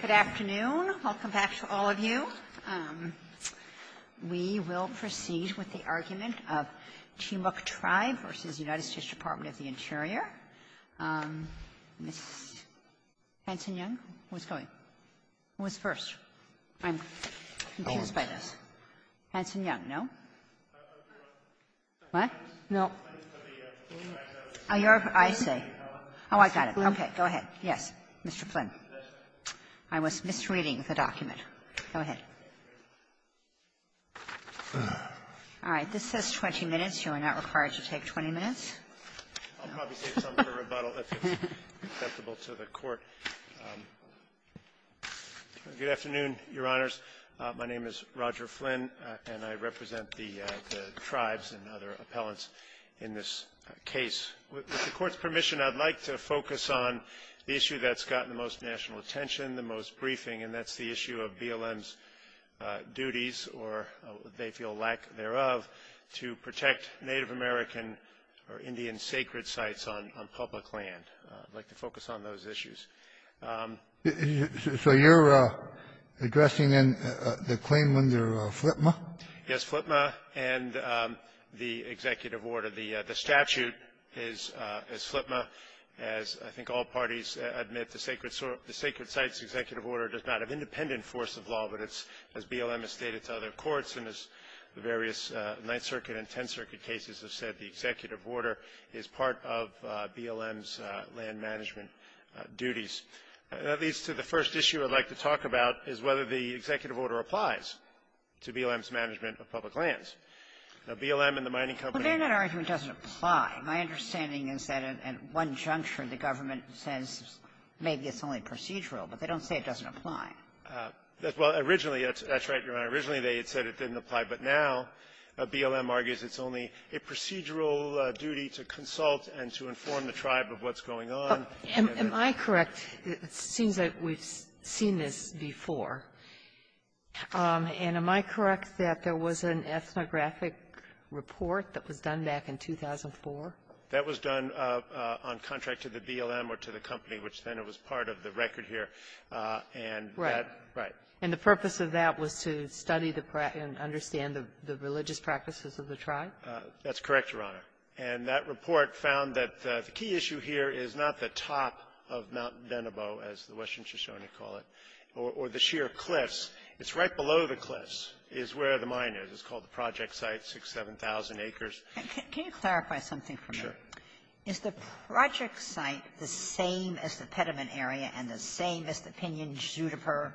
Good afternoon. Welcome back to all of you. We will proceed with the argument of Te-Moak Tribe v. United States Department of the Interior. Ms. Hanson-Young, who's going? Who's first? I'm confused by this. Hanson-Young, no? What? No. I say. Oh, I got it. Okay. Go ahead. Yes. Mr. Flynn. I was misreading the document. Go ahead. All right. This says 20 minutes. You are not required to take 20 minutes. I'll probably take some for rebuttal if it's acceptable to the Court. Good afternoon, Your Honors. My name is Roger Flynn, and I represent the tribes and other appellants in this case. With the Court's permission, I'd like to focus on the issue that's gotten the most national attention, the most briefing, and that's the issue of BLM's duties or they feel lack thereof to protect Native American or Indian sacred sites on public land. I'd like to focus on those issues. So you're addressing, then, the claim under FLPMA? Yes, FLPMA and the executive order. The statute is FLPMA. As I think all parties admit, the sacred sites executive order does not have independent force of law, but it's, as BLM has stated to other courts and as the various Ninth Circuit and Tenth Circuit cases have said, the executive order is part of BLM's land management duties. That leads to the first issue I'd like to talk about is whether the executive order applies to BLM's management of public lands. Now, BLM and the mining company ---- Well, they're not arguing it doesn't apply. My understanding is that at one juncture, the government says maybe it's only procedural, but they don't say it doesn't apply. Well, originally, that's right, Your Honor. Originally, they had said it didn't apply. But now, BLM argues it's only a procedural duty to consult and to inform the tribe of what's going on. Am I correct? It seems like we've seen this before. And am I correct that there was an ethnographic report that was done back in 2004? That was done on contract to the BLM or to the company, which then it was part of the record here. And that ---- Right. Right. And the purpose of that was to study the practice and understand the religious practices of the tribe? That's correct, Your Honor. And that report found that the key issue here is not the top of Mount Denebo, as the western Shoshone call it, or the sheer cliffs. It's right below the cliffs is where the mine is. It's called the project site, 6,000, 7,000 acres. Can you clarify something for me? Sure. Is the project site the same as the Petermann area and the same as the Pinion-Juniper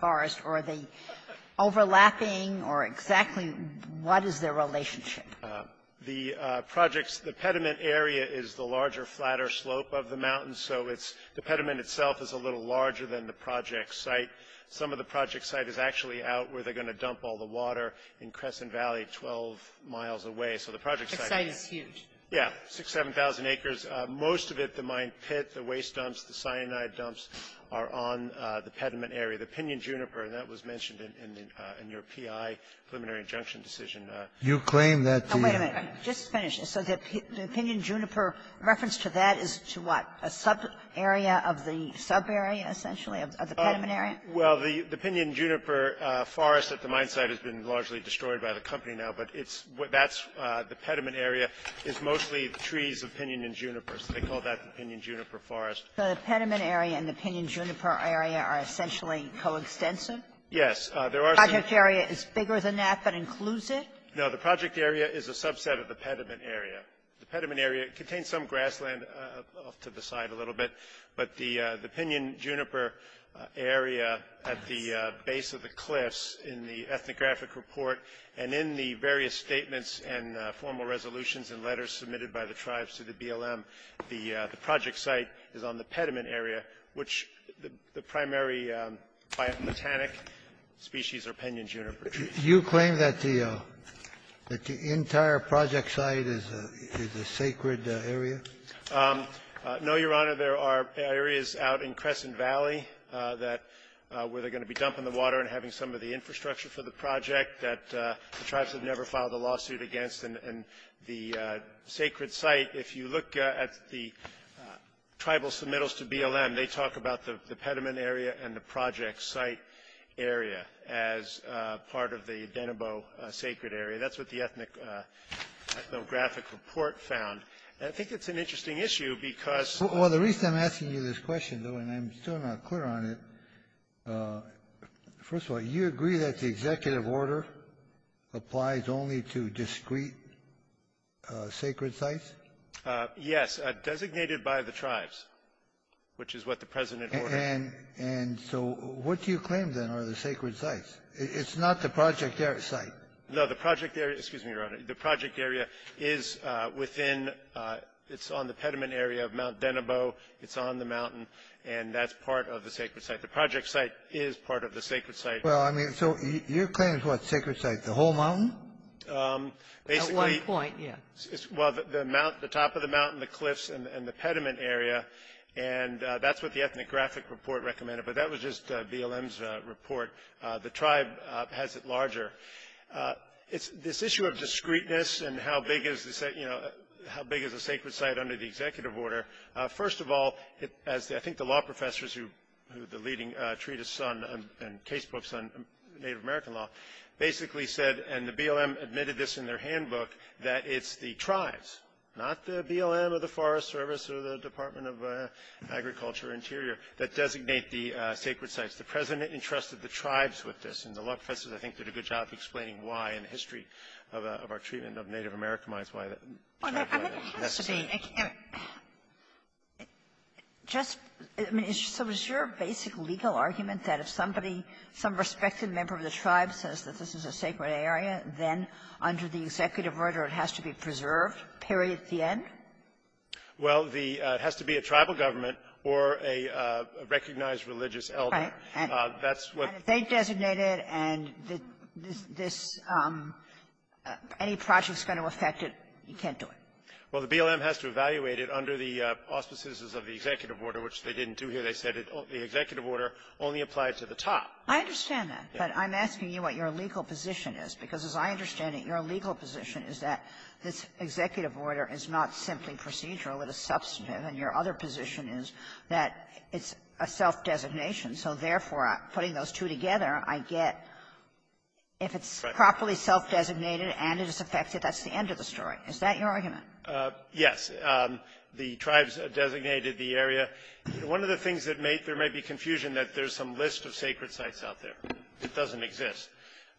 forest, or are they overlapping, or exactly what is their relationship? The project's ---- the Petermann area is the larger, flatter slope of the mountain, so it's ---- the Petermann itself is a little larger than the project site. Some of the project site is actually out where they're going to dump all the water in Crescent Valley 12 miles away. So the project site is ---- That site is huge. Yes. 6,000, 7,000 acres. Most of it, the mine pit, the waste dumps, the cyanide dumps are on the Petermann area. The Pinion-Juniper, and that was mentioned in your PI preliminary injunction decision ---- You claim that the ---- Oh, wait a minute. Just finish. So the Pinion-Juniper reference to that is to what? A subarea of the subarea, essentially, of the Petermann area? Well, the Pinion-Juniper forest at the mine site has been largely destroyed by the company now, but it's what that's the Petermann area is mostly trees of Pinion-Juniper. So they call that the Pinion-Juniper forest. So the Petermann area and the Pinion-Juniper area are essentially coextensive? Yes. There are some ---- The project area is bigger than that, but includes it? No. The project area is a subset of the Petermann area. The Petermann area contains some grassland off to the side a little bit, but the Pinion-Juniper area at the base of the cliffs in the ethnographic report and in the various statements and formal resolutions and letters submitted by the tribes to the BLM, the project site is on the Petermann area, which the primary biometallic species are Pinion-Juniper. You claim that the entire project site is a sacred area? No, Your Honor. There are areas out in Crescent Valley that were going to be dumped in the water and having some of the infrastructure for the project that the tribes have never filed a lawsuit against, and the sacred site, if you look at the tribal submittals to BLM, they talk about the Petermann area and the project site area as part of the Denebo sacred area. That's what the ethnographic report found. And I think it's an interesting issue because the reason I'm asking you this question, though, and I'm still not clear on it, first of all, you agree that the executive order applies only to discrete sacred sites? Yes, designated by the tribes, which is what the President ordered. And so what do you claim, then, are the sacred sites? It's not the project area site. No, the project area — excuse me, Your Honor. The project area is within — it's on the Petermann area of Mount Denebo. It's on the mountain, and that's part of the sacred site. The project site is part of the sacred site. Well, I mean, so your claim is what sacred site? The whole mountain? Basically — At one point, yes. Well, the mount — the top of the mountain, the cliffs, and the Petermann area, and that's what the ethnographic report recommended. But that was just BLM's report. The tribe has it larger. It's this issue of discreteness and how big is the — you know, how big is a sacred site under the executive order. First of all, as I think the law professors who — who the leading treatise on and case books on Native American law basically said, and the BLM admitted this in their handbook, that it's the tribes, not the BLM or the Forest Service or the Department of Agriculture or Interior, that designate the sacred sites. The President entrusted the tribes with this. And the law professors, I think, did a good job of explaining why in the history of our treatment of Native American lands, why that tribe had it necessary. Well, I mean, it has to be — just — I mean, so is your basic legal argument that if somebody — some respected member of the tribe says that this is a sacred area, then under the executive order, it has to be preserved, period, at the end? Well, the — it has to be a tribal government or a recognized religious elder. Right. And that's what — And if they designate it and this — any project is going to affect it, you can't do it. Well, the BLM has to evaluate it under the auspices of the executive order, which they didn't do here. They said the executive order only applied to the top. I understand that. But I'm asking you what your legal position is, because as I understand it, your legal position is that this executive order is not simply procedural. It is substantive. And your other position is that it's a self-designation. So therefore, putting those two together, I get if it's properly self-designated and it is affected, that's the end of the story. Is that your argument? Yes. The tribes designated the area. One of the things that may — there may be confusion that there's some list of sacred sites out there. It doesn't exist.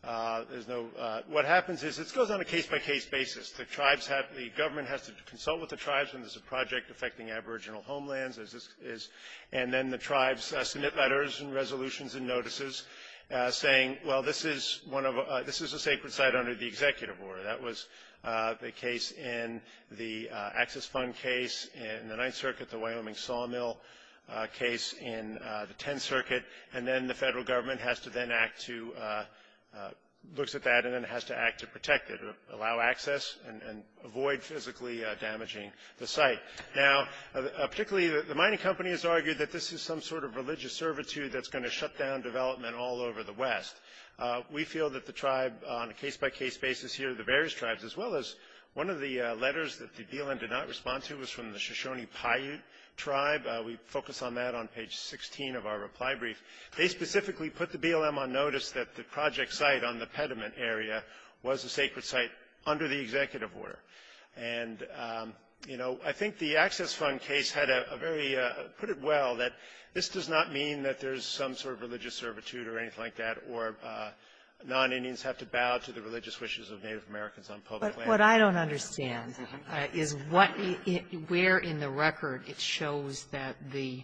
There's no — what happens is it goes on a case-by-case basis. The tribes have — the government has to consult with the tribes, and there's a project affecting aboriginal homelands, as this is. And then the tribes submit letters and resolutions and notices saying, well, this is one of — this is a sacred site under the executive order. That was the case in the access fund case in the Ninth Circuit, the Wyoming sawmill case in the Tenth Circuit. And then the federal government has to then act to — looks at that and then has to act to protect it, allow access and avoid physically damaging the site. Now, particularly, the mining company has argued that this is some sort of religious servitude that's going to shut down development all over the West. We feel that the tribe on a case-by-case basis here, the various tribes, as well as one of the letters that the BLM did not respond to was from the Shoshone Paiute tribe. We focus on that on page 16 of our reply brief. They specifically put the BLM on notice that the project site on the pediment area was a sacred site under the executive order. And, you know, I think the access fund case had a very — put it well that this does not mean that there's some sort of religious servitude or anything like that or non-Indians have to bow to the religious wishes of Native Americans on public land. But what I don't understand is what — where in the record it shows that the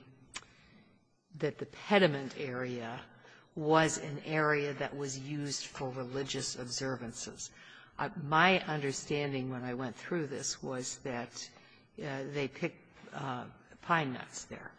— that the pediment area was an area that was used for religious observances. My understanding when I went through this was that they picked pine nuts there.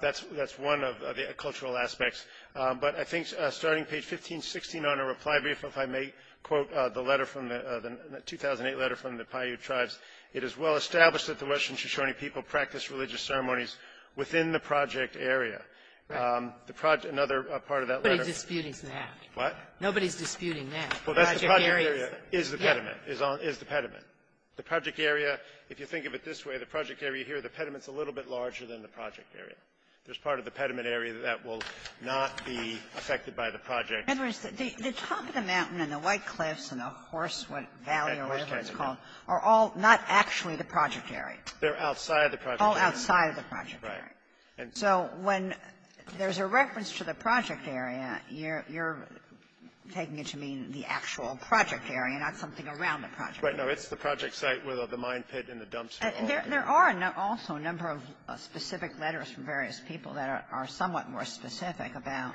That's — that's one of the cultural aspects. But I think starting page 1516 on our reply brief, if I may quote the letter from the — the 2008 letter from the Paiute tribes, it is well established that the Western Shoshone people practiced religious ceremonies within the project area. The project — another part of that letter — Nobody's disputing that. What? Nobody's disputing that. Well, that's the project area is the pediment. Is on — is the pediment. The project area, if you think of it this way, the project area here, the pediment's a little bit larger than the project area. There's part of the pediment area that will not be affected by the project. In other words, the top of the mountain and the White Cliffs and the Horsewood Valley, or whatever it's called, are all not actually the project area. They're outside the project area. All outside the project area. Right. And so when there's a reference to the project area, you're — you're taking it to mean the actual project area, not something around the project area. Right. No. It's the project site where the mine pit and the dumps are all there. There are also a number of specific letters from various people that are somewhat more specific about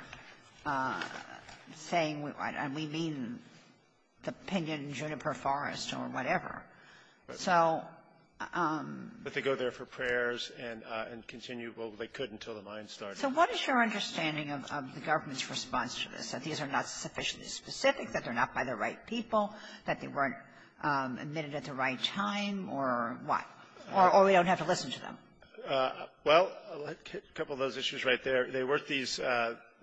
saying — and we mean the pinyon-juniper forest or whatever. So — But they go there for prayers and continue. Well, they could until the mine started. So what is your understanding of the government's response to this, that these are not sufficiently specific, that they're not by the right people, that they weren't admitted at the right time, or what? Or we don't have to listen to them? Well, a couple of those issues right there. They weren't these —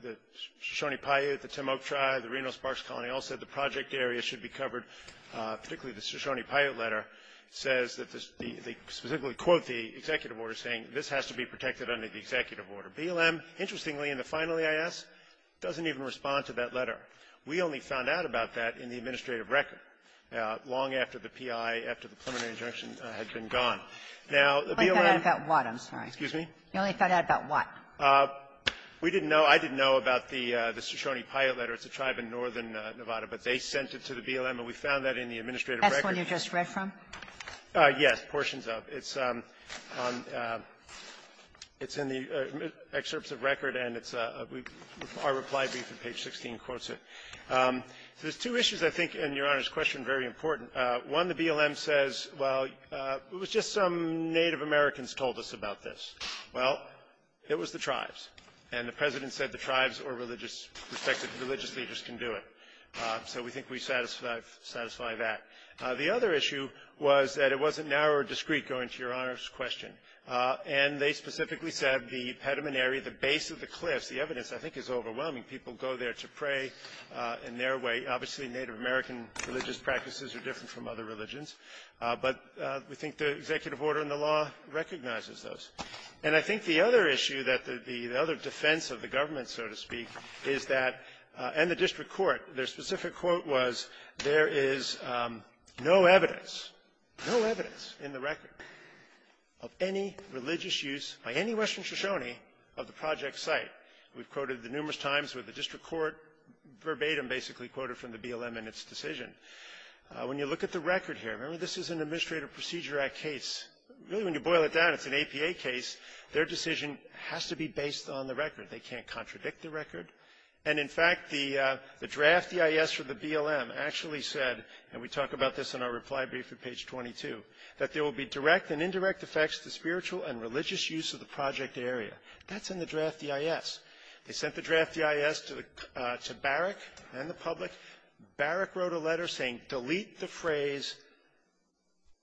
the Shoshone Paiute, the Timok Tribe, the Reno Sparks Colony all said the project area should be covered, particularly the Shoshone Paiute letter says that the — they specifically quote the executive order saying this has to be protected under the executive order. BLM, interestingly, in the final EIS, doesn't even respond to that letter. We only found out about that in the administrative record long after the P.I., after the preliminary injunction had been gone. Now, the BLM — You only found out about what? I'm sorry. Excuse me? You only found out about what? We didn't know. I didn't know about the Shoshone Paiute letter. It's a tribe in northern Nevada. But they sent it to the BLM, and we found that in the administrative record. That's the one you just read from? Yes. Portions of. It's on — it's in the excerpts of record, and it's a — our reply brief on page 16 quotes it. There's two issues I think in Your Honor's question very important. One, the BLM says, well, it was just some Native Americans told us about this. Well, it was the tribes. And the President said the tribes or religious — respected religious leaders can do it. So we think we satisfy that. The other issue was that it wasn't narrow or discreet going to Your Honor's question. And they specifically said the pedimentary, the base of the cliffs, the evidence I think is overwhelming. People go there to pray in their way. Obviously, Native American religious practices are different from other religions. But we think the executive order in the law recognizes those. And I think the other issue that the — the other defense of the government, so to speak, is that — and the district court. Their specific quote was, there is no evidence, no evidence in the record of any religious use by any Western Shoshone of the project site. We've quoted the numerous times where the district court verbatim basically quoted from the BLM in its decision. When you look at the record here, remember, this is an Administrative Procedure Act case. Really, when you boil it down, it's an APA case. Their decision has to be based on the record. They can't contradict the record. And, in fact, the draft EIS for the BLM actually said — and we talk about this in our reply brief at page 22 — that there will be direct and indirect effects to spiritual and religious use of the project area. That's in the draft EIS. They sent the draft EIS to Barrick and the public. Barrick wrote a letter saying, delete the phrase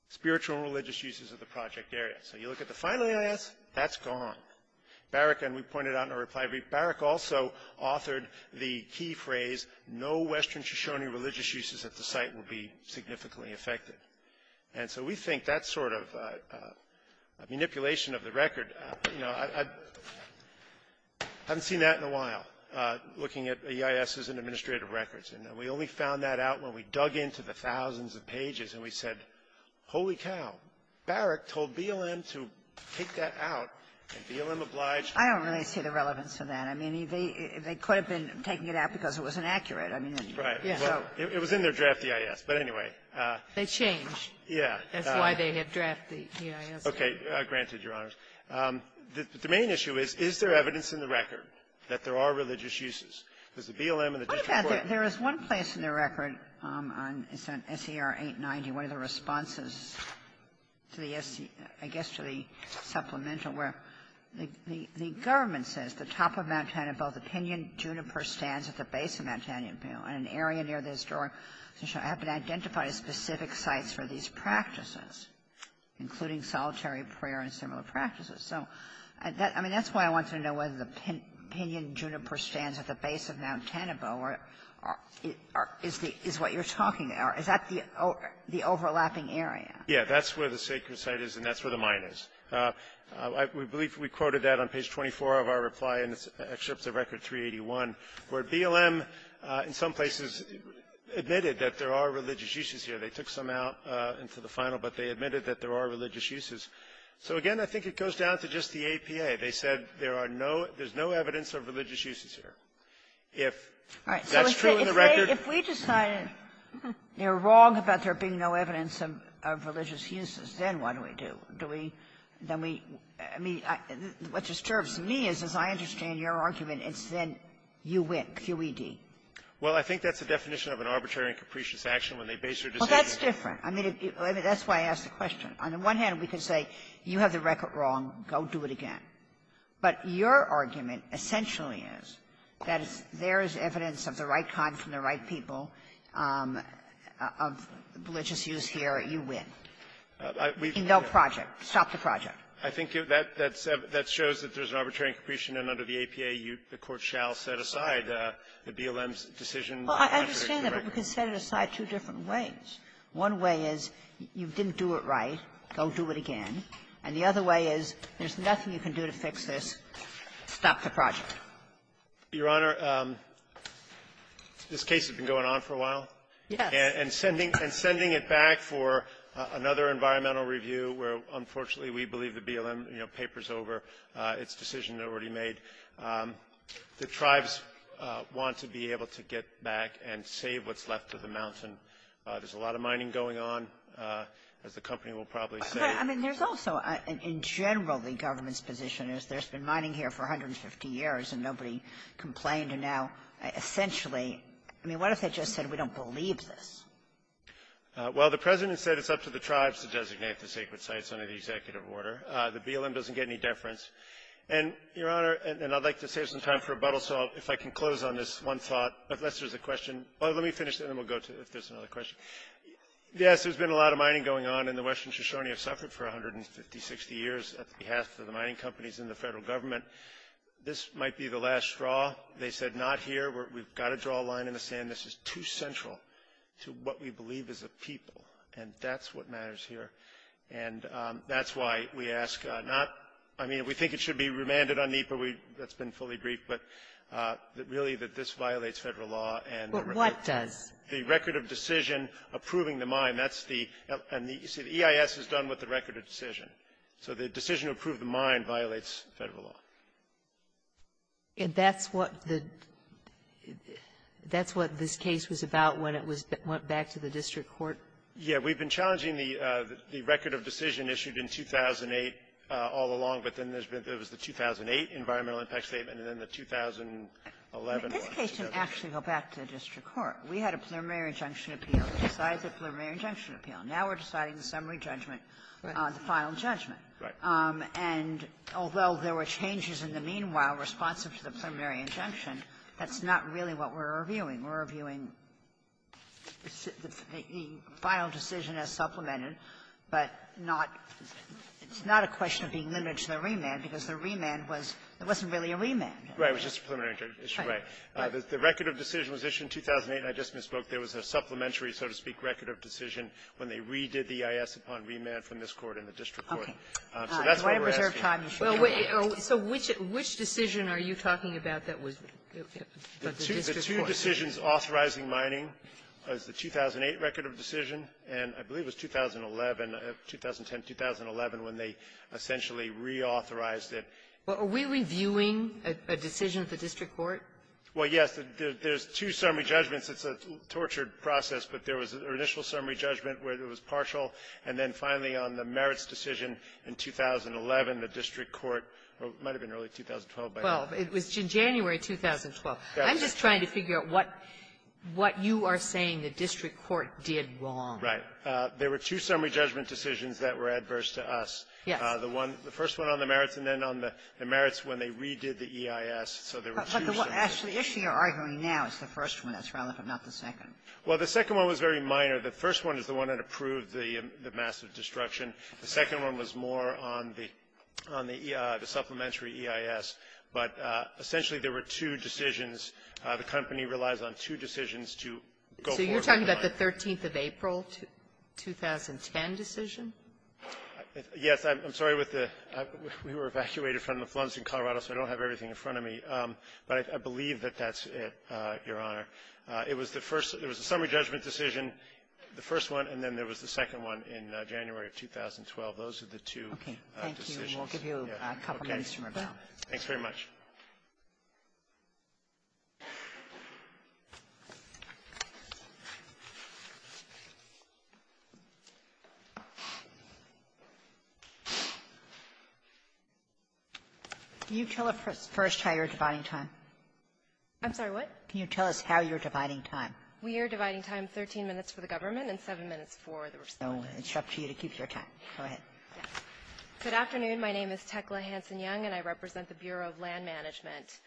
spiritual and religious uses of the project area. So you look at the final EIS, that's gone. Barrick — and we pointed out in our reply brief — Barrick also authored the key phrase, no Western Shoshone religious uses at the site will be significantly affected. And so we think that sort of manipulation of the record — you know, I haven't seen that in a while, looking at EISs and administrative records. And we only found that out when we dug into the thousands of pages and we said, holy cow, Barrick told BLM to take that out, and BLM obliged — I don't really see the relevance of that. I mean, they could have been taking it out because it was inaccurate. I mean, so — It was in their draft EIS. But, anyway — They changed. Yeah. That's why they had drafted the EIS. Okay. Granted, Your Honors. The main issue is, is there evidence in the record that there are religious uses? Because the BLM and the district court — There is one place in the record on — it's on S.E.R. 890, one of the responses to the S.E.R. — I guess to the supplemental, where the government says, the top of Mount Tanabeau, the pinyon juniper stands at the base of Mount Tanabeau. And an area near the historic Shoshone have been identified as specific sites for these practices, including solitary prayer and similar practices. So, I mean, that's why I wanted to know whether the pinyon juniper stands at the base of Mount Tanabeau is the — is what you're talking about. Is that the overlapping area? Yeah. That's where the sacred site is, and that's where the mine is. I believe we quoted that on page 24 of our reply, and it's excerpts of Record 381, where BLM, in some places, admitted that there are religious uses here. They took some out into the final, but they admitted that there are religious uses. So, again, I think it goes down to just the APA. They said there are no — there's no evidence of religious uses here. If that's true in the record — If we decided they were wrong about there being no evidence of religious uses, then what do we do? Do we — then we — I mean, what disturbs me is, as I understand your argument, it's then you win, QED. Well, I think that's the definition of an arbitrary and capricious action when they base their decision. Well, that's different. I mean, that's why I asked the question. On the one hand, we could say you have the record wrong. Go do it again. But your argument essentially is that if there is evidence of the right kind from the right people of religious use here, you win. I mean, no project. Stop the project. I think that's — that shows that there's an arbitrary and capricious. And under the APA, you — the Court shall set aside the BLM's decision. Well, I understand that, but we can set it aside two different ways. One way is you didn't do it right. Go do it again. And the other way is there's nothing you can do to fix this. Stop the project. Your Honor, this case has been going on for a while. Yes. And sending — and sending it back for another environmental review where, unfortunately, we believe the BLM, you know, paper's over, its decision already made. The tribes want to be able to get back and save what's left of the mountain. There's a lot of mining going on, as the company will probably say. I mean, there's also, in general, the government's position is there's been mining here for 150 years, and nobody complained. And now, essentially, I mean, what if they just said we don't believe this? Well, the President said it's up to the tribes to designate the sacred sites under the executive order. The BLM doesn't get any deference. And, Your Honor, and I'd like to save some time for rebuttal, so if I can close on this one thought, unless there's a question. Let me finish, and then we'll go to it if there's another question. Yes, there's been a lot of mining going on, and the Western Shoshone have suffered for 150, 60 years on behalf of the mining companies and the federal government. This might be the last straw. They said not here. We've got to draw a line in the sand. This is too central to what we believe as a people, and that's what matters here. And that's why we ask not — I mean, we think it should be remanded on NEPA. That's been fully briefed. But really, that this violates federal law, and — But what does? The record of decision approving the mine. That's the — and the EIS is done with the record of decision. So the decision to approve the mine violates federal law. And that's what the — that's what this case was about when it was — went back to the district court? Yeah. We've been challenging the record of decision issued in 2008 all along, but then there's been — there was the 2008 environmental impact statement, and then the 2011 one. This case didn't actually go back to the district court. We had a preliminary injunction appeal. We decided the preliminary injunction appeal. Now we're deciding the summary judgment on the final judgment. Right. And although there were changes in the meanwhile responsive to the preliminary injunction, that's not really what we're reviewing. We're reviewing the final decision as supplemented, but not — it's not a question of being limited to the remand because the remand was — it wasn't really a remand. Right. It was just a preliminary injunction. Right. The record of decision was issued in 2008, and I just misspoke. There was a supplementary, so to speak, record of decision when they redid the EIS upon remand from this Court and the district court. Okay. So that's what we're asking. Well, so which — which decision are you talking about that was — that the district court? The two decisions authorizing mining was the 2008 record of decision, and I believe it was 2011 — 2010-2011 when they essentially reauthorized it. Well, are we reviewing a decision of the district court? Well, yes. There's two summary judgments. It's a tortured process, but there was an initial summary judgment where it was partial, and then finally on the merits decision in 2011, the district court — it might have been early 2012 by now. Well, it was January 2012. I'm just trying to figure out what — what you are saying the district court did wrong. Right. There were two summary judgment decisions that were adverse to us. Yes. The one — the first one on the merits, and then on the merits when they redid the EIS. So there were two summary — Actually, the issue you're arguing now is the first one. That's relevant, not the second. Well, the second one was very minor. The first one is the one that approved the massive destruction. The second one was more on the — on the supplementary EIS. But essentially, there were two decisions. The company relies on two decisions to go forward with the mine. So you're talking about the 13th of April, 2010 decision? Yes. I'm sorry with the — we were evacuated from the floods in Colorado, so I don't have everything in front of me. But I believe that that's it, Your Honor. It was the first — it was a summary judgment decision, the first one, and then there was the second one in January of 2012. Those are the two decisions. Okay. Thank you. We'll give you a couple minutes to rebut. Thanks very much. Can you tell us first how you're dividing time? I'm sorry, what? Can you tell us how you're dividing time? We are dividing time 13 minutes for the government and 7 minutes for the respondent. So it's up to you to keep your time. Go ahead. Yes. Good afternoon. My name is Tekla Hanson-Young, and I represent the Bureau of Land Management.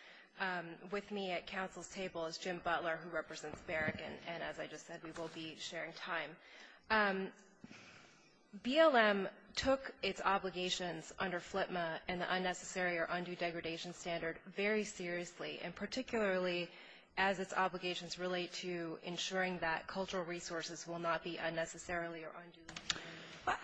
With me at counsel's table is Jim Butler, who represents Barrick, and as I just said, we will be sharing time. BLM took its obligations under FLTMA and the unnecessary or undue degradation standard very seriously, and particularly as its obligations relate to ensuring that cultural resources will not be unnecessarily or undue. Well,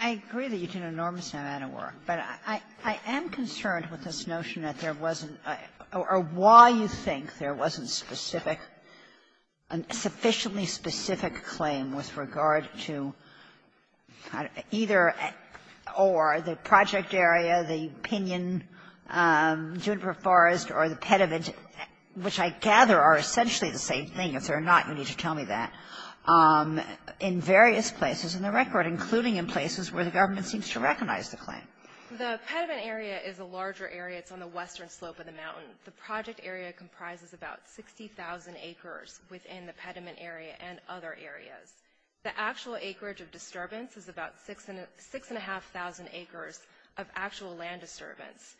I agree that you did an enormous amount of work, but I am concerned with this notion that there wasn't — or why you think there wasn't specific — a sufficiently specific claim with regard to either or the project area, the pinyon, juniper forest, or the pediment, which I gather are essentially the same thing. If they're not, you need to tell me that, in various places in the record, including in places where the government seems to recognize the claim. The pediment area is a larger area. It's on the western slope of the mountain. The project area comprises about 60,000 acres within the pediment area and other areas. The actual acreage of disturbance is about 6,500 acres of actual land disturbance.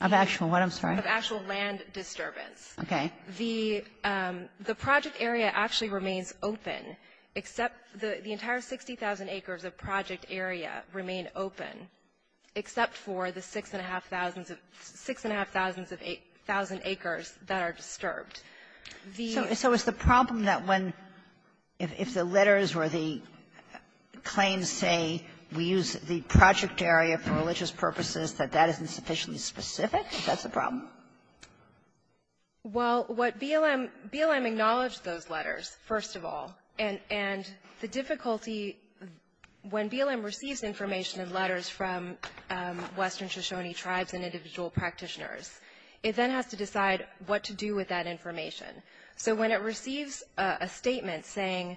Of actual what, I'm sorry? Of actual land disturbance. Okay. The — the project area actually remains open, except — the entire 60,000 acres of project area remain open, except for the 6,500 of — 6,500 of acres of land disturbance, the 60,000 acres that are disturbed. The — So is the problem that when — if the letters or the claims say we use the project area for religious purposes, that that isn't sufficiently specific? That's the problem? Well, what BLM — BLM acknowledged those letters, first of all. And — and the difficulty, when BLM receives information and letters from western states, is that it has to decide what to do with that information. So when it receives a statement saying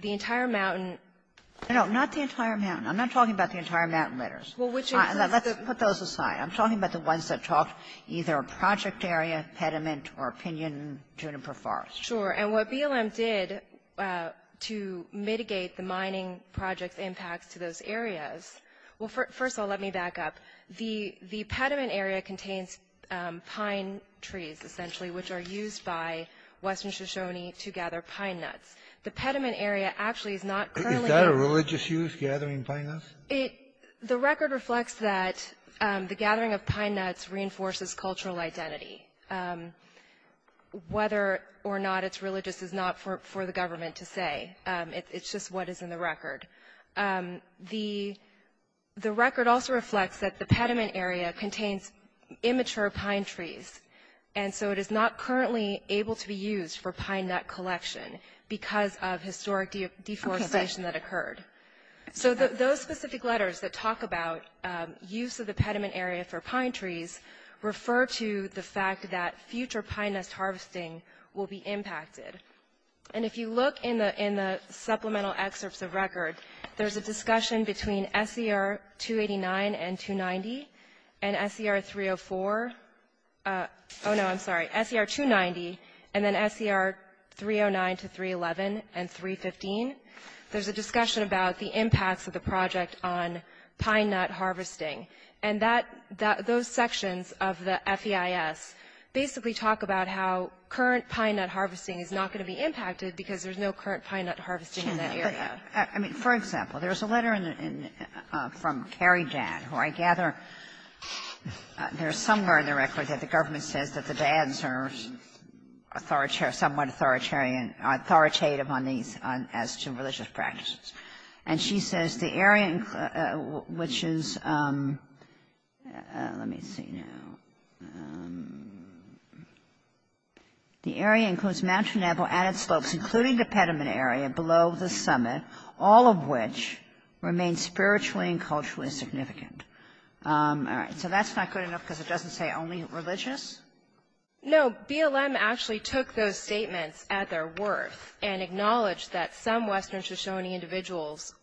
the entire mountain — No, no. Not the entire mountain. I'm not talking about the entire mountain letters. Well, which is the — Let's put those aside. I'm talking about the ones that talk either project area, pediment, or pinyon, juniper forest. Sure. And what BLM did to mitigate the mining project's impacts to those areas — well, first of all, let me back up. The — the pediment area contains pine trees, essentially, which are used by western Shoshone to gather pine nuts. The pediment area actually is not currently — Is that a religious use, gathering pine nuts? It — the record reflects that the gathering of pine nuts reinforces cultural identity. Whether or not it's religious is not for the government to say. It's just what is in the record. The — the record also reflects that the pediment area contains immature pine trees, and so it is not currently able to be used for pine nut collection because of historic deforestation that occurred. So those specific letters that talk about use of the pediment area for pine trees refer to the fact that future pine nest harvesting will be impacted. And if you look in the — in the supplemental excerpts of record, there's a discussion between SER 289 and 290 and SER 304 — oh, no, I'm sorry, SER 290 and then SER 309 to 311 and 315. There's a discussion about the impacts of the project on pine nut harvesting. And that — those sections of the FEIS basically talk about how current pine nut harvesting is not going to be impacted because there's no current pine nut harvesting in that area. I mean, for example, there's a letter in — from Carrie Dadd, who I gather there's somewhere in the record that the government says that the Dadds are authoritarian — somewhat authoritarian — authoritative on these — as to religious practices. And she says the area, which is — let me see now. The area includes Mount Geneva and its slopes, including the pediment area below the summit, all of which remain spiritually and culturally significant. All right. So that's not good enough because it doesn't say only religious? No. BLM actually took those statements at their worth and acknowledged that some Western Shoshone individuals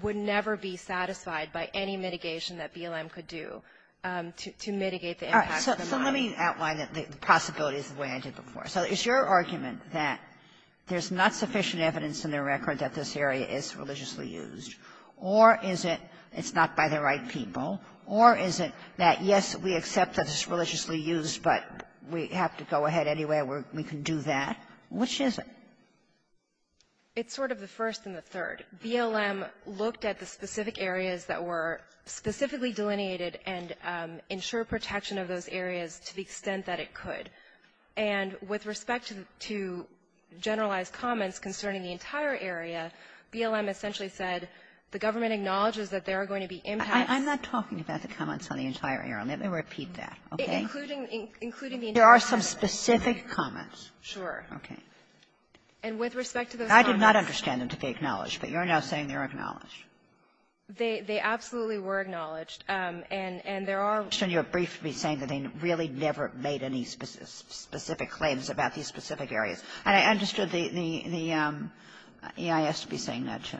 would never be satisfied by any mitigation that BLM could do to mitigate the impacts of the mine. Kagan. So let me outline the possibilities the way I did before. So it's your argument that there's not sufficient evidence in the record that this area is religiously used, or is it it's not by the right people, or is it that, yes, we accept that it's religiously used, but we have to go ahead anyway, we can do that? Which is it? It's sort of the first and the third. BLM looked at the specific areas that were specifically delineated and ensured protection of those areas to the extent that it could. And with respect to generalized comments concerning the entire area, BLM essentially said the government acknowledges that there are going to be impacts — I'm not talking about the comments on the entire area. Let me repeat that, okay? Including the entire area. There are some specific comments. Sure. Okay. And with respect to those comments — I did not understand them to be acknowledged, but you're now saying they're acknowledged. They absolutely were acknowledged. And there are — And you're briefly saying that they really never made any specific claims about these specific areas. And I understood the EIS to be saying that, too.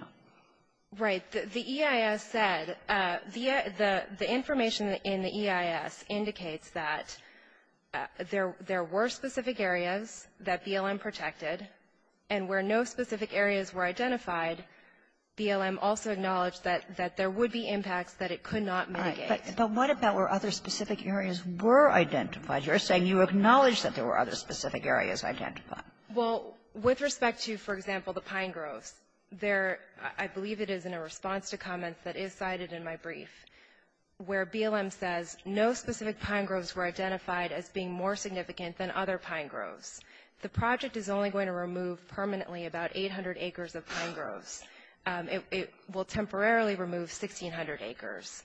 Right. The EIS said the information in the EIS indicates that there were specific areas that BLM protected, and where no specific areas were identified, BLM also acknowledged that there would be impacts that it could not mitigate. Right. But what about where other specific areas were identified? You're saying you acknowledge that there were other specific areas identified. Well, with respect to, for example, the pine groves, there — I believe it is in a response to comments that is cited in my brief, where BLM says no specific pine groves were The project is only going to remove permanently about 800 acres of pine groves. It will temporarily remove 1,600 acres.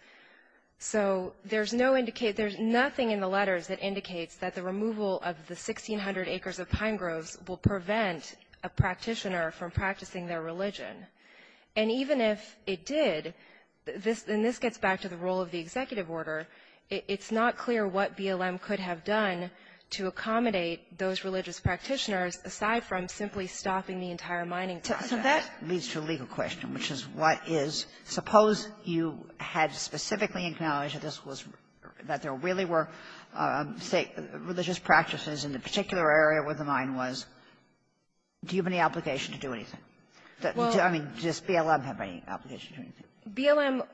So there's no indication — there's nothing in the letters that indicates that the removal of the 1,600 acres of pine groves will prevent a practitioner from practicing their religion. And even if it did, and this gets back to the role of the executive order, it's not clear what BLM could have done to accommodate those religious practitioners, aside from simply stopping the entire mining project. So that leads to a legal question, which is what is — suppose you had specifically acknowledged that this was — that there really were, say, religious practices in the particular area where the mine was. Do you have any obligation to do anything? Well — I mean, does BLM have any obligation to do anything? BLM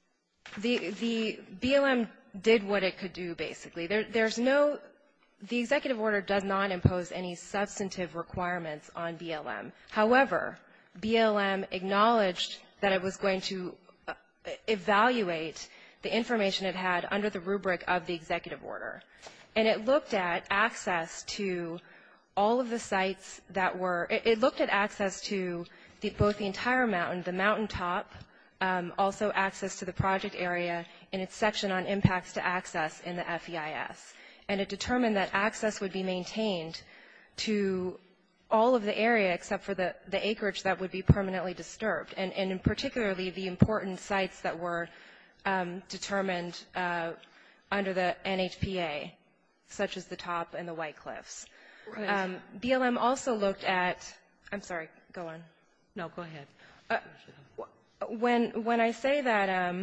— the BLM did what it could do, basically. There's no — the executive order does not impose any substantive requirements on BLM. However, BLM acknowledged that it was going to evaluate the information it had under the rubric of the executive order. And it looked at access to all of the area, except for the acreage that would be permanently disturbed, and particularly the important sites that were determined under the NHPA, such as the top and the white cliffs. Go ahead. BLM also looked at — I'm sorry. Go on. No, go ahead. When I say that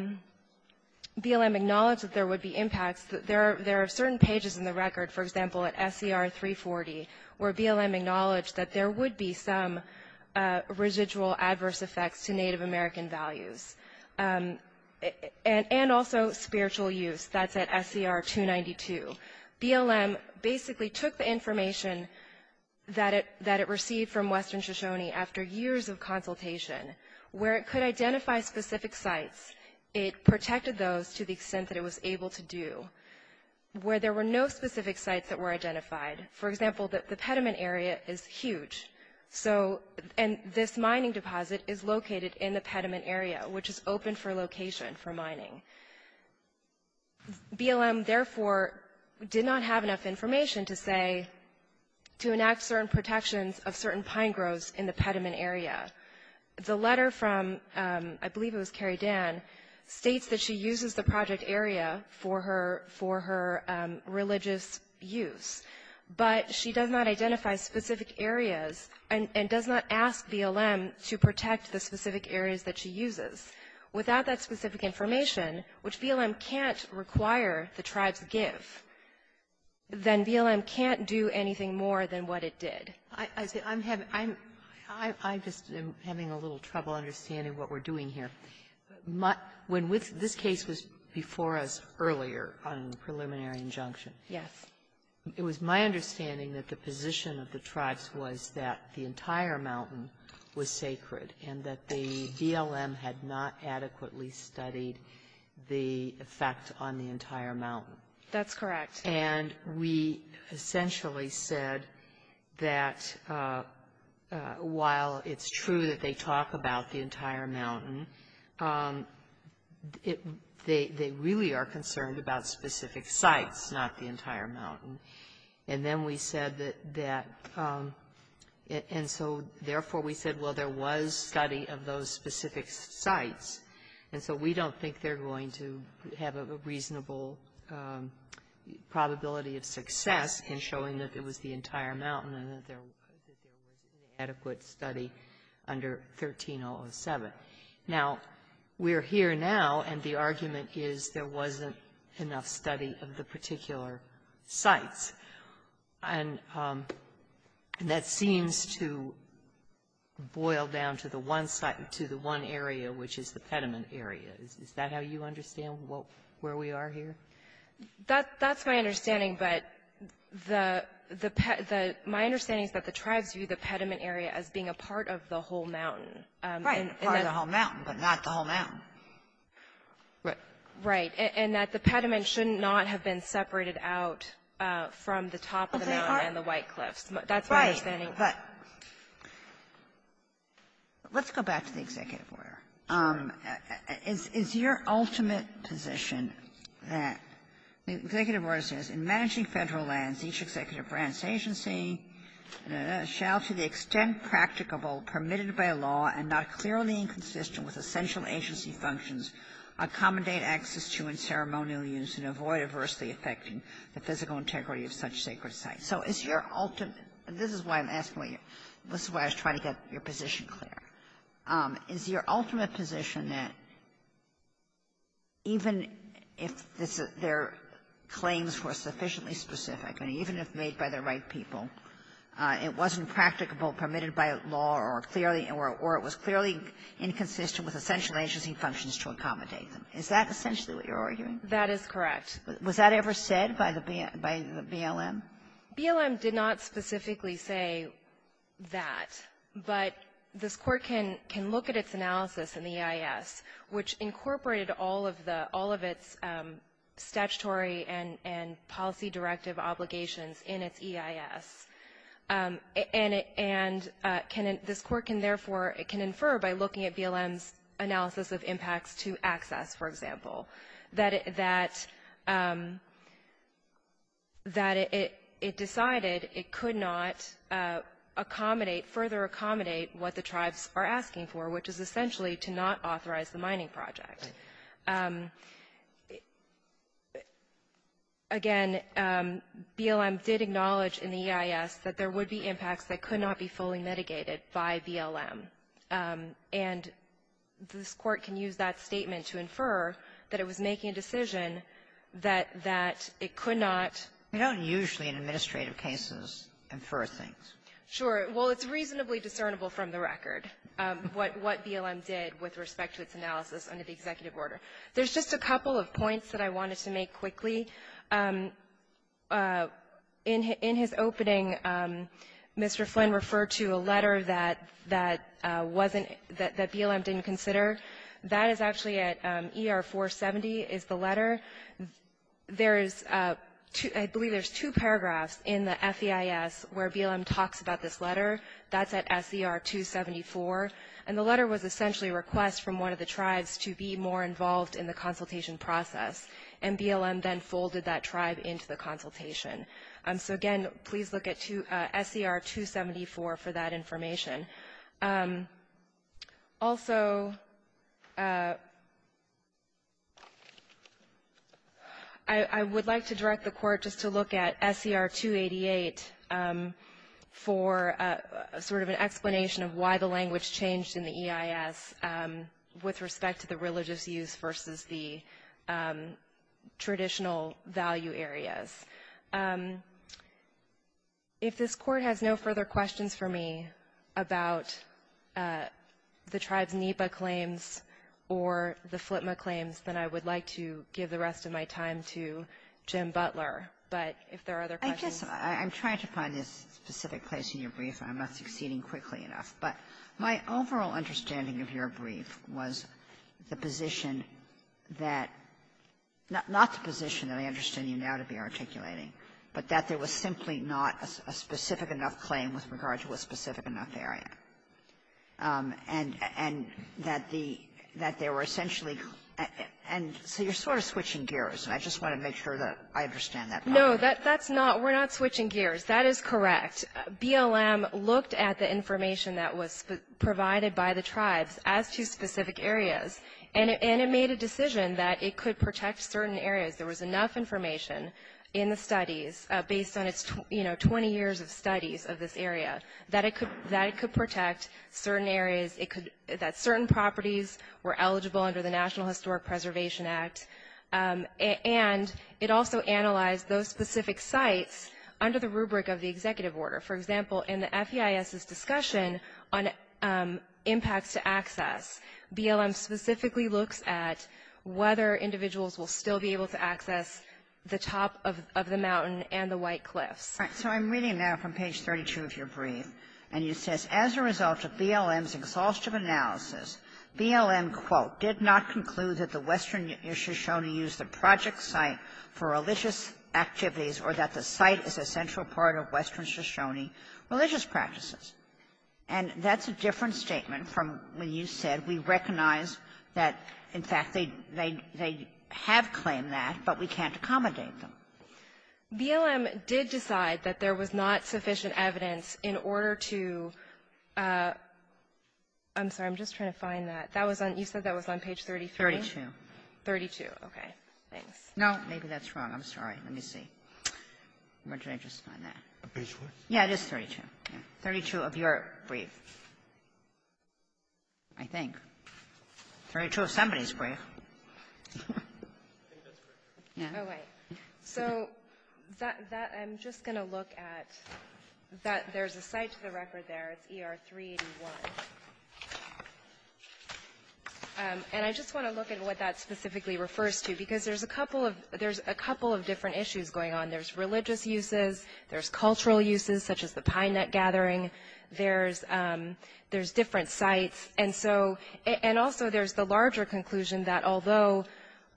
BLM acknowledged that there would be impacts, there are certain pages in the record, for example, at SCR 340, where BLM acknowledged that there would be some residual adverse effects to Native American values, and also spiritual use. That's at SCR 292. BLM basically took the information that it — that it received from Western Shoshone after years of consultation, where it could identify specific sites, it protected those to the extent that it was able to do, where there were no specific sites that were identified. For example, the Petaluma area is huge, so — and this mining deposit is located in the Petaluma area, which is open for location for mining. BLM, therefore, did not have enough information to say — to enact certain pine groves in the Petaluma area. The letter from — I believe it was Carrie Dan — states that she uses the project area for her — for her religious use, but she does not identify specific areas and does not ask BLM to protect the specific areas that she uses. Without that specific information, which BLM can't require the tribes give, then BLM can't do anything more than what it did. Sotomayor, I'm having — I'm just having a little trouble understanding what we're doing here. When this case was before us earlier on preliminary injunction. Yes. It was my understanding that the position of the tribes was that the entire mountain was sacred and that the BLM had not adequately studied the effect on the entire mountain. That's correct. And we essentially said that while it's true that they talk about the entire mountain, it — they really are concerned about specific sites, not the entire mountain. And then we said that that — and so, therefore, we said, well, there was study of those specific sites, and so we don't think they're going to have a reasonable probability of success in showing that it was the entire mountain and that there was inadequate study under 1307. Now, we're here now, and the argument is there wasn't enough study of the particular sites. And that seems to boil down to the one site — to the one area, which is the pediment area. Is that how you understand where we are here? That's my understanding, but the — my understanding is that the tribes view the pediment area as being a part of the whole mountain. Right. Part of the whole mountain, but not the whole mountain. Right. Right. And that the pediment should not have been separated out from the top of the mountain and the White Cliffs. That's my understanding. But let's go back to the executive order. Is your ultimate position that the executive order says, in managing Federal lands, each executive branch agency shall, to the extent practicable, permitted by law, and not clearly inconsistent with essential agency functions, accommodate access to and ceremonially use and avoid adversely affecting the physical integrity of such sacred sites? So is your ultimate — and this is why I'm asking you. This is why I was trying to get your position clear. Is your ultimate position that even if this — their claims were sufficiently specific, and even if made by the right people, it wasn't practicable, permitted by law, or clearly — or it was clearly inconsistent with essential agency functions to accommodate them? Is that essentially what you're arguing? That is correct. Was that ever said by the BLM? BLM did not specifically say that. But this Court can look at its analysis in the EIS, which incorporated all of the — all of its statutory and policy directive obligations in its EIS. And it — and can — this Court can, therefore, it can infer by looking at BLM's impacts to access, for example, that it — that it — it decided it could not accommodate — further accommodate what the tribes are asking for, which is essentially to not authorize the mining project. Again, BLM did acknowledge in the EIS that there would be impacts that could not be fully mitigated by BLM. And this Court can use that statement to infer that it was making a decision that — that it could not. We don't usually, in administrative cases, infer things. Sure. Well, it's reasonably discernible from the record what — what BLM did with respect to its analysis under the executive order. There's just a couple of points that I wanted to make quickly. In his opening, Mr. Flynn referred to a letter that — that wasn't — that BLM didn't consider. That is actually at — ER-470 is the letter. There is two — I believe there's two paragraphs in the FEIS where BLM talks about this letter. That's at SER-274. And the letter was essentially a request from one of the tribes to be more involved in the consultation process, and BLM then folded that tribe into the consultation. So, again, please look at two — SER-274 for that information. Also, I would like to direct the Court just to look at SER-288 for sort of an explanation of why the language changed in the EIS with respect to the religious use versus the traditional value areas. If this Court has no further questions for me about the tribes' NEPA claims or the FLTMA claims, then I would like to give the rest of my time to Jim Butler. But if there are other questions — I guess I'm trying to find a specific place in your brief. I'm not succeeding quickly enough. But my overall understanding of your brief was the position that — not the position that I understand you now to be articulating, but that there was simply not a specific enough claim with regard to a specific enough area, and that the — that there were essentially — and so you're sort of switching gears. And I just want to make sure that I understand that. No, that's not — we're not switching gears. That is correct. BLM looked at the information that was provided by the tribes as to specific areas. And it made a decision that it could protect certain areas. There was enough information in the studies, based on its, you know, 20 years of studies of this area, that it could — that it could protect certain areas. It could — that certain properties were eligible under the National Historic Preservation Act, and it also analyzed those specific sites under the rubric of the executive order. For example, in the FEIS' discussion on impacts to access, BLM specifically looks at whether individuals will still be able to access the top of the mountain and the White Cliffs. All right. So I'm reading now from page 32 of your brief. And it says, as a result of BLM's exhaustive analysis, BLM, quote, did not conclude that the Western Shoshone use the project site for religious activities or that the site is a central part of Western Shoshone religious practices. And that's a different statement from when you said we recognize that, in fact, they — they have claimed that, but we can't accommodate them. BLM did decide that there was not sufficient evidence in order to — I'm sorry. I'm just trying to find that. That was on — you said that was on page 33? 32. 32. Okay. Thanks. No. Maybe that's wrong. I'm sorry. Let me see. Where did I just find that? Page what? Yeah, it is 32. 32 of your brief, I think. 32 of somebody's brief. I think that's correct. Yeah. Oh, wait. So that — that — I'm just going to look at that. There's a site to the record there. It's ER 381. And I just want to look at what that specifically refers to, because there's a couple of — there's a couple of different issues going on. There's religious uses. There's cultural uses, such as the pine nut gathering. There's — there's different sites. And so — and also there's the larger conclusion that although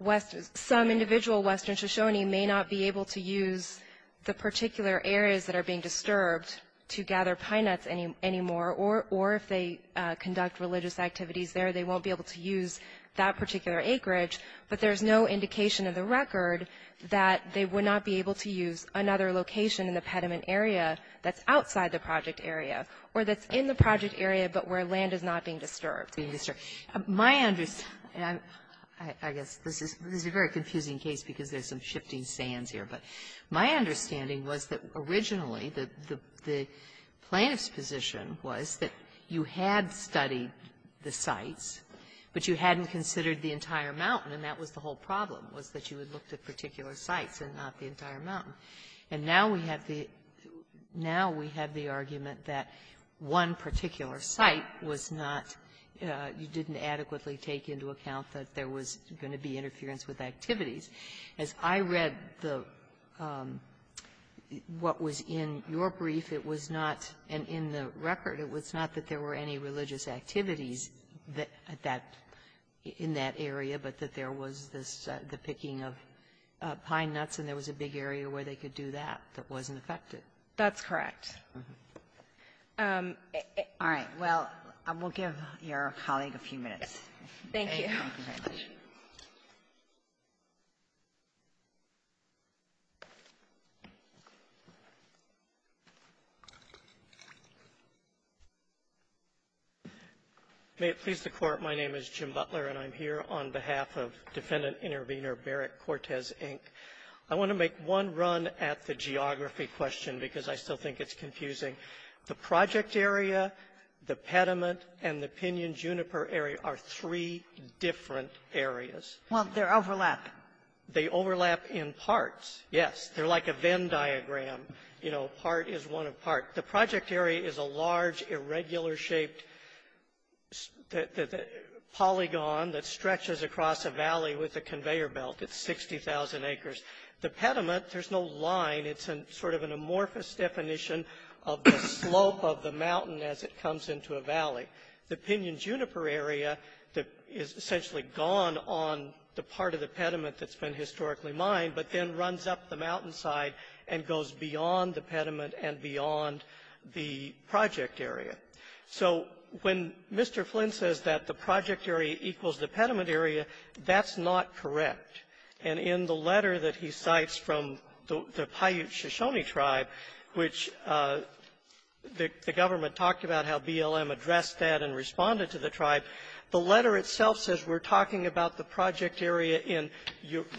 West — some individual Western Shoshone may not be able to use the particular areas that are being disturbed to gather pine nuts anymore, or if they conduct religious activities there, they won't be able to use that particular acreage. But there's no indication in the record that they would not be able to use another location in the pediment area that's outside the project area or that's in the project area but where land is not being disturbed. Being disturbed. My — I guess this is a very confusing case because there's some shifting sands here, but my understanding was that originally the — the plaintiff's position was that you had studied the sites, but you hadn't considered the entire mountain, and that was the whole problem, was that you had looked at particular sites and not the entire mountain. And now we have the — now we have the argument that one particular site was not — you didn't adequately take into account that there was going to be interference with activities. As I read the — what was in your brief, it was not — and in the record, it was not that there were any religious activities that — that — in that area, but that there was this — the picking of pine nuts, and there was a big area where they could do that that wasn't affected. That's correct. All right. Well, we'll give your colleague a few minutes. Thank you. May it please the Court. My name is Jim Butler, and I'm here on behalf of Defendant Intervenor Barrett Cortez, Inc. I want to make one run at the geography question because I still think it's confusing. The project area, the pediment, and the Pinyon-Juniper area are three different areas. Well, they're overlapping. They overlap in parts, yes. They're like a Venn diagram. You know, part is one of part. The project area is a large, irregular-shaped polygon that stretches across a valley with a conveyor belt. It's 60,000 acres. The pediment, there's no line. It's a sort of an amorphous definition of the slope of the mountain as it comes into a valley. The Pinyon-Juniper area is essentially gone on the part of the pediment that's been historically mined, but then runs up the mountainside and goes beyond the pediment and beyond the project area. So when Mr. Flynn says that the project area equals the pediment area, that's not correct. And in the letter that he cites from the Paiute Shoshone Tribe, which the government talked about how BLM addressed that and responded to the tribe. The letter itself says we're talking about the project area in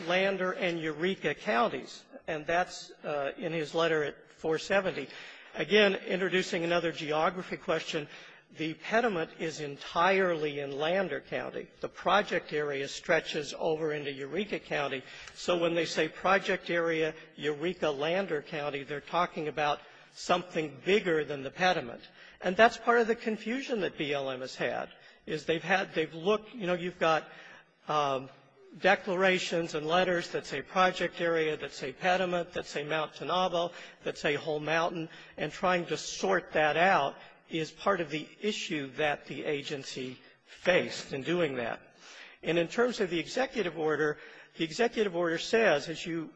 Lander and Eureka counties, and that's in his letter at 470. Again, introducing another geography question, the pediment is entirely in Lander County. The project area stretches over into Eureka County. So when they say project area Eureka-Lander County, they're talking about something bigger than the pediment. And that's part of the confusion that BLM has had, is they've had they've looked you know, you've got declarations and letters that say project area, that say pediment, that say Mount Tenobo, that say whole mountain, and trying to sort that out is part of the issue that the agency faced in doing that. And in terms of the executive order, the executive order says, as you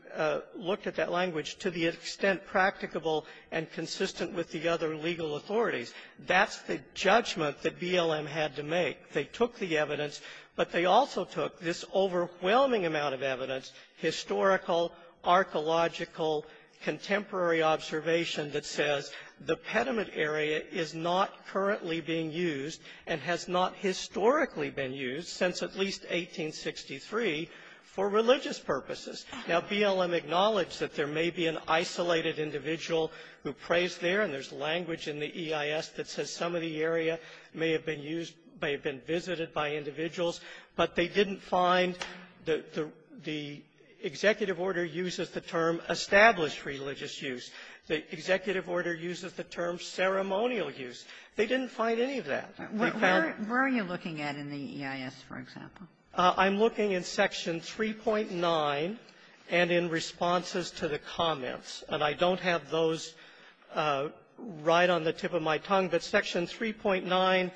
looked at that language, to the extent practicable and consistent with the other legal authorities. That's the judgment that BLM had to make. They took the evidence, but they also took this overwhelming amount of evidence, historical, archaeological, contemporary observation that says the pediment area is not currently being used and has not historically been used since at least 1863 for religious purposes. Now, BLM acknowledged that there may be an isolated individual who prays there, and there's language in the EIS that says some of the area may have been used, may have been visited by individuals, but they didn't find the executive order uses the term established religious use. The executive order uses the term ceremonial use. They didn't find any of that. And they found that in the EIS. Kagan, where are you looking at in the EIS, for example? Kagan I'm looking at Section 3.9 and in responses to the comments, and I don't have those right on the tip of my tongue, but Section 3.9,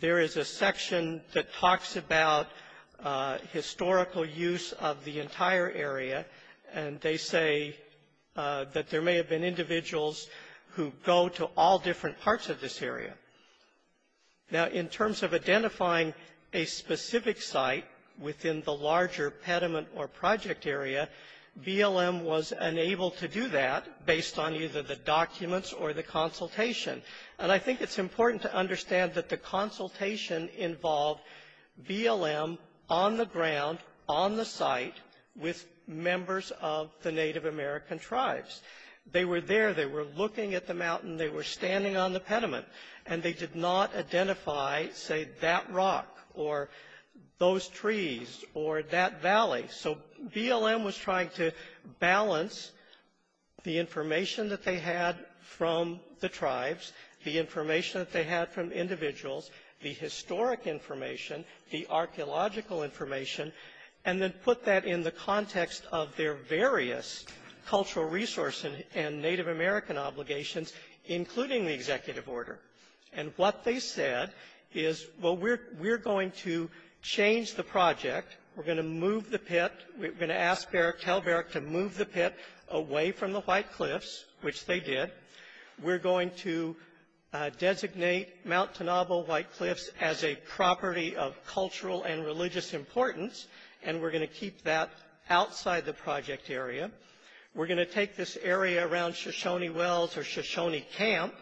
there is a section that talks about historical use of the entire area, and they say that there may have been individuals who go to all different parts of this area. Now, in terms of identifying a specific site within the larger pediment or project area, BLM was unable to do that based on either the documents or the consultation. And I think it's important to understand that the consultation involved BLM on the ground, on the site, with members of the Native American tribes. They were there. They were looking at the mountain. They were standing on the pediment. And they did not identify, say, that rock or those trees or that valley. So BLM was trying to balance the information that they had from the tribes, the information that they had from individuals, the historic information, the archaeological information, and then put that in the context of their various cultural resources and Native American obligations, including the executive order. And what they said is, well, we're going to change the project. We're going to move the pit. We're going to ask Beric, tell Beric to move the pit away from the White Cliffs, which they did. We're going to designate Mount Tenobo White Cliffs as a property of cultural and religious importance, and we're going to keep that outside the project area. We're going to take this area around Shoshone Wells or Shoshone Camp,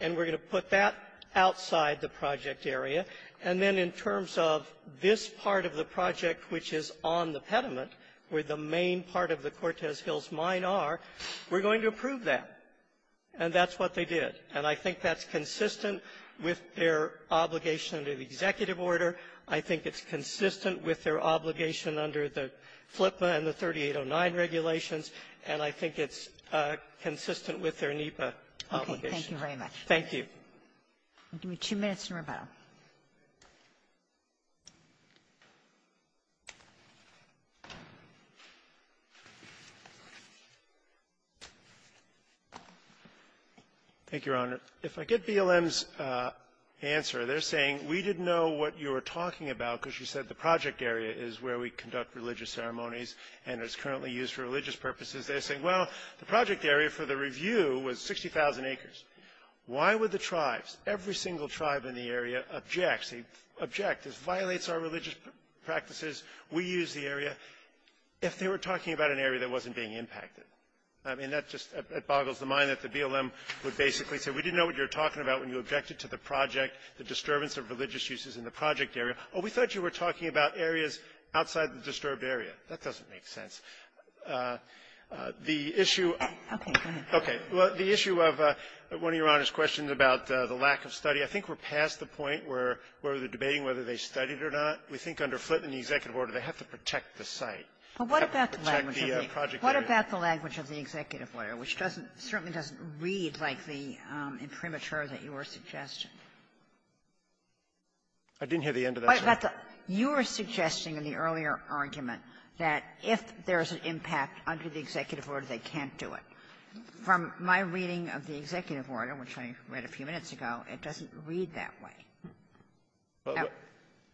and we're going to put that outside the project area. And then in terms of this part of the project, which is on the pediment, where the main part of the Cortez Hills Mine are, we're going to approve that. And that's what they did. And I think that's consistent with their obligation to the executive order. I think it's consistent with their obligation under the FLIPPA and the 3809 regulations, and I think it's consistent with their NEPA obligation. Kagan. Thank you very much. Thank you. Give me two minutes in rebuttal. Thank you, Your Honor. If I get BLM's answer, they're saying, we didn't know what you were talking about because you said the project area is where we conduct religious ceremonies, and it's currently used for religious purposes. They're saying, well, the project area for the review was 60,000 acres. Why would the tribes, every single tribe in the area, object, say, object, this violates our religious practices, we use the area, if they were talking about an area that wasn't being impacted? I mean, that just boggles the mind that the BLM would basically say, we didn't know what you were talking about when you objected to the project, the disturbance of religious uses in the project area. Oh, we thought you were talking about areas outside the disturbed area. That doesn't make sense. The issue of one of Your Honor's questions about the lack of study, I think we're past the point where they're debating whether they studied or not. We think under FLIPPA and the executive order, they have to protect the site. They have to protect the project area. Kagan, do you have any comment on the language of the executive order, which doesn't certainly doesn't read like the imprimatur that you were suggesting? I didn't hear the end of that, Your Honor. You were suggesting in the earlier argument that if there's an impact under the executive order, they can't do it. From my reading of the executive order, which I read a few minutes ago, it doesn't read that way. Well,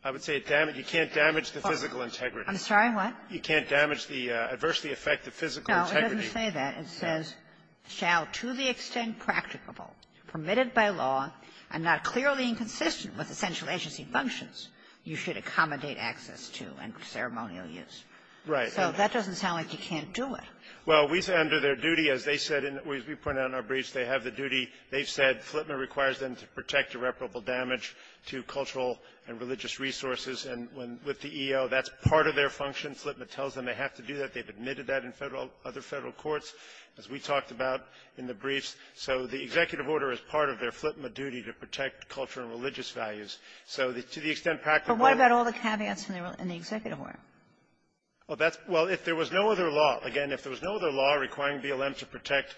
I would say you can't damage the physical integrity. I'm sorry, what? You can't damage the adversely affect the physical integrity. No, it doesn't say that. It says, shall to the extent practicable, permitted by law, and not clearly inconsistent with essential agency functions, you should accommodate access to and ceremonial use. Right. So that doesn't sound like you can't do it. Well, we said under their duty, as they said, as we pointed out in our briefs, they have the duty. They've said FLIPPA requires them to protect irreparable damage to cultural and religious resources. And with the E.O., that's part of their function. FLIPPA tells them they have to do that. They've admitted that in Federal other Federal courts, as we talked about in the briefs. So the executive order is part of their FLIPPA duty to protect cultural and religious values. So to the extent practicable --- But what about all the caveats in the executive order? Well, that's -- well, if there was no other law, again, if there was no other law requiring BLM to protect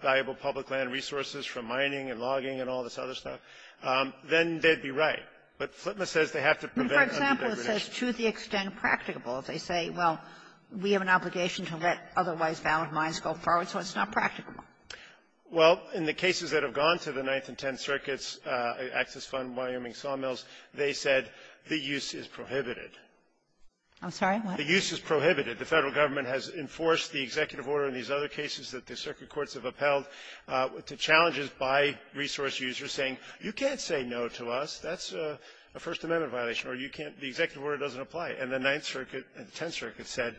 valuable public land resources from mining and logging and all this other stuff, then they'd be right. But FLIPPA says they have to prevent under-degradation. But, for example, it says to the extent practicable. They say, well, we have an obligation to let otherwise valid mines go forward. So it's not practicable. Well, in the cases that have gone to the Ninth and Tenth Circuits, Access Fund, Wyoming Sawmills, they said the use is prohibited. I'm sorry? What? The use is prohibited. The Federal government has enforced the executive order in these other cases that the circuit courts have upheld to challenges by resource users saying, you can't say no to us. That's a First Amendment violation. Or you can't -- the executive order doesn't apply. And the Ninth Circuit and the Tenth Circuit said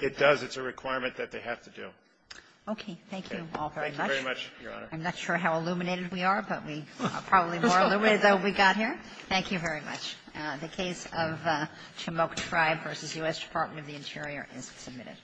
it does. It's a requirement that they have to do. Okay. Thank you all very much. Thank you very much, Your Honor. I'm not sure how illuminated we are, but we are probably more illuminated than we got here. Thank you very much. The case of Chemoke Tribe v. U.S. Department of the Interior is submitted.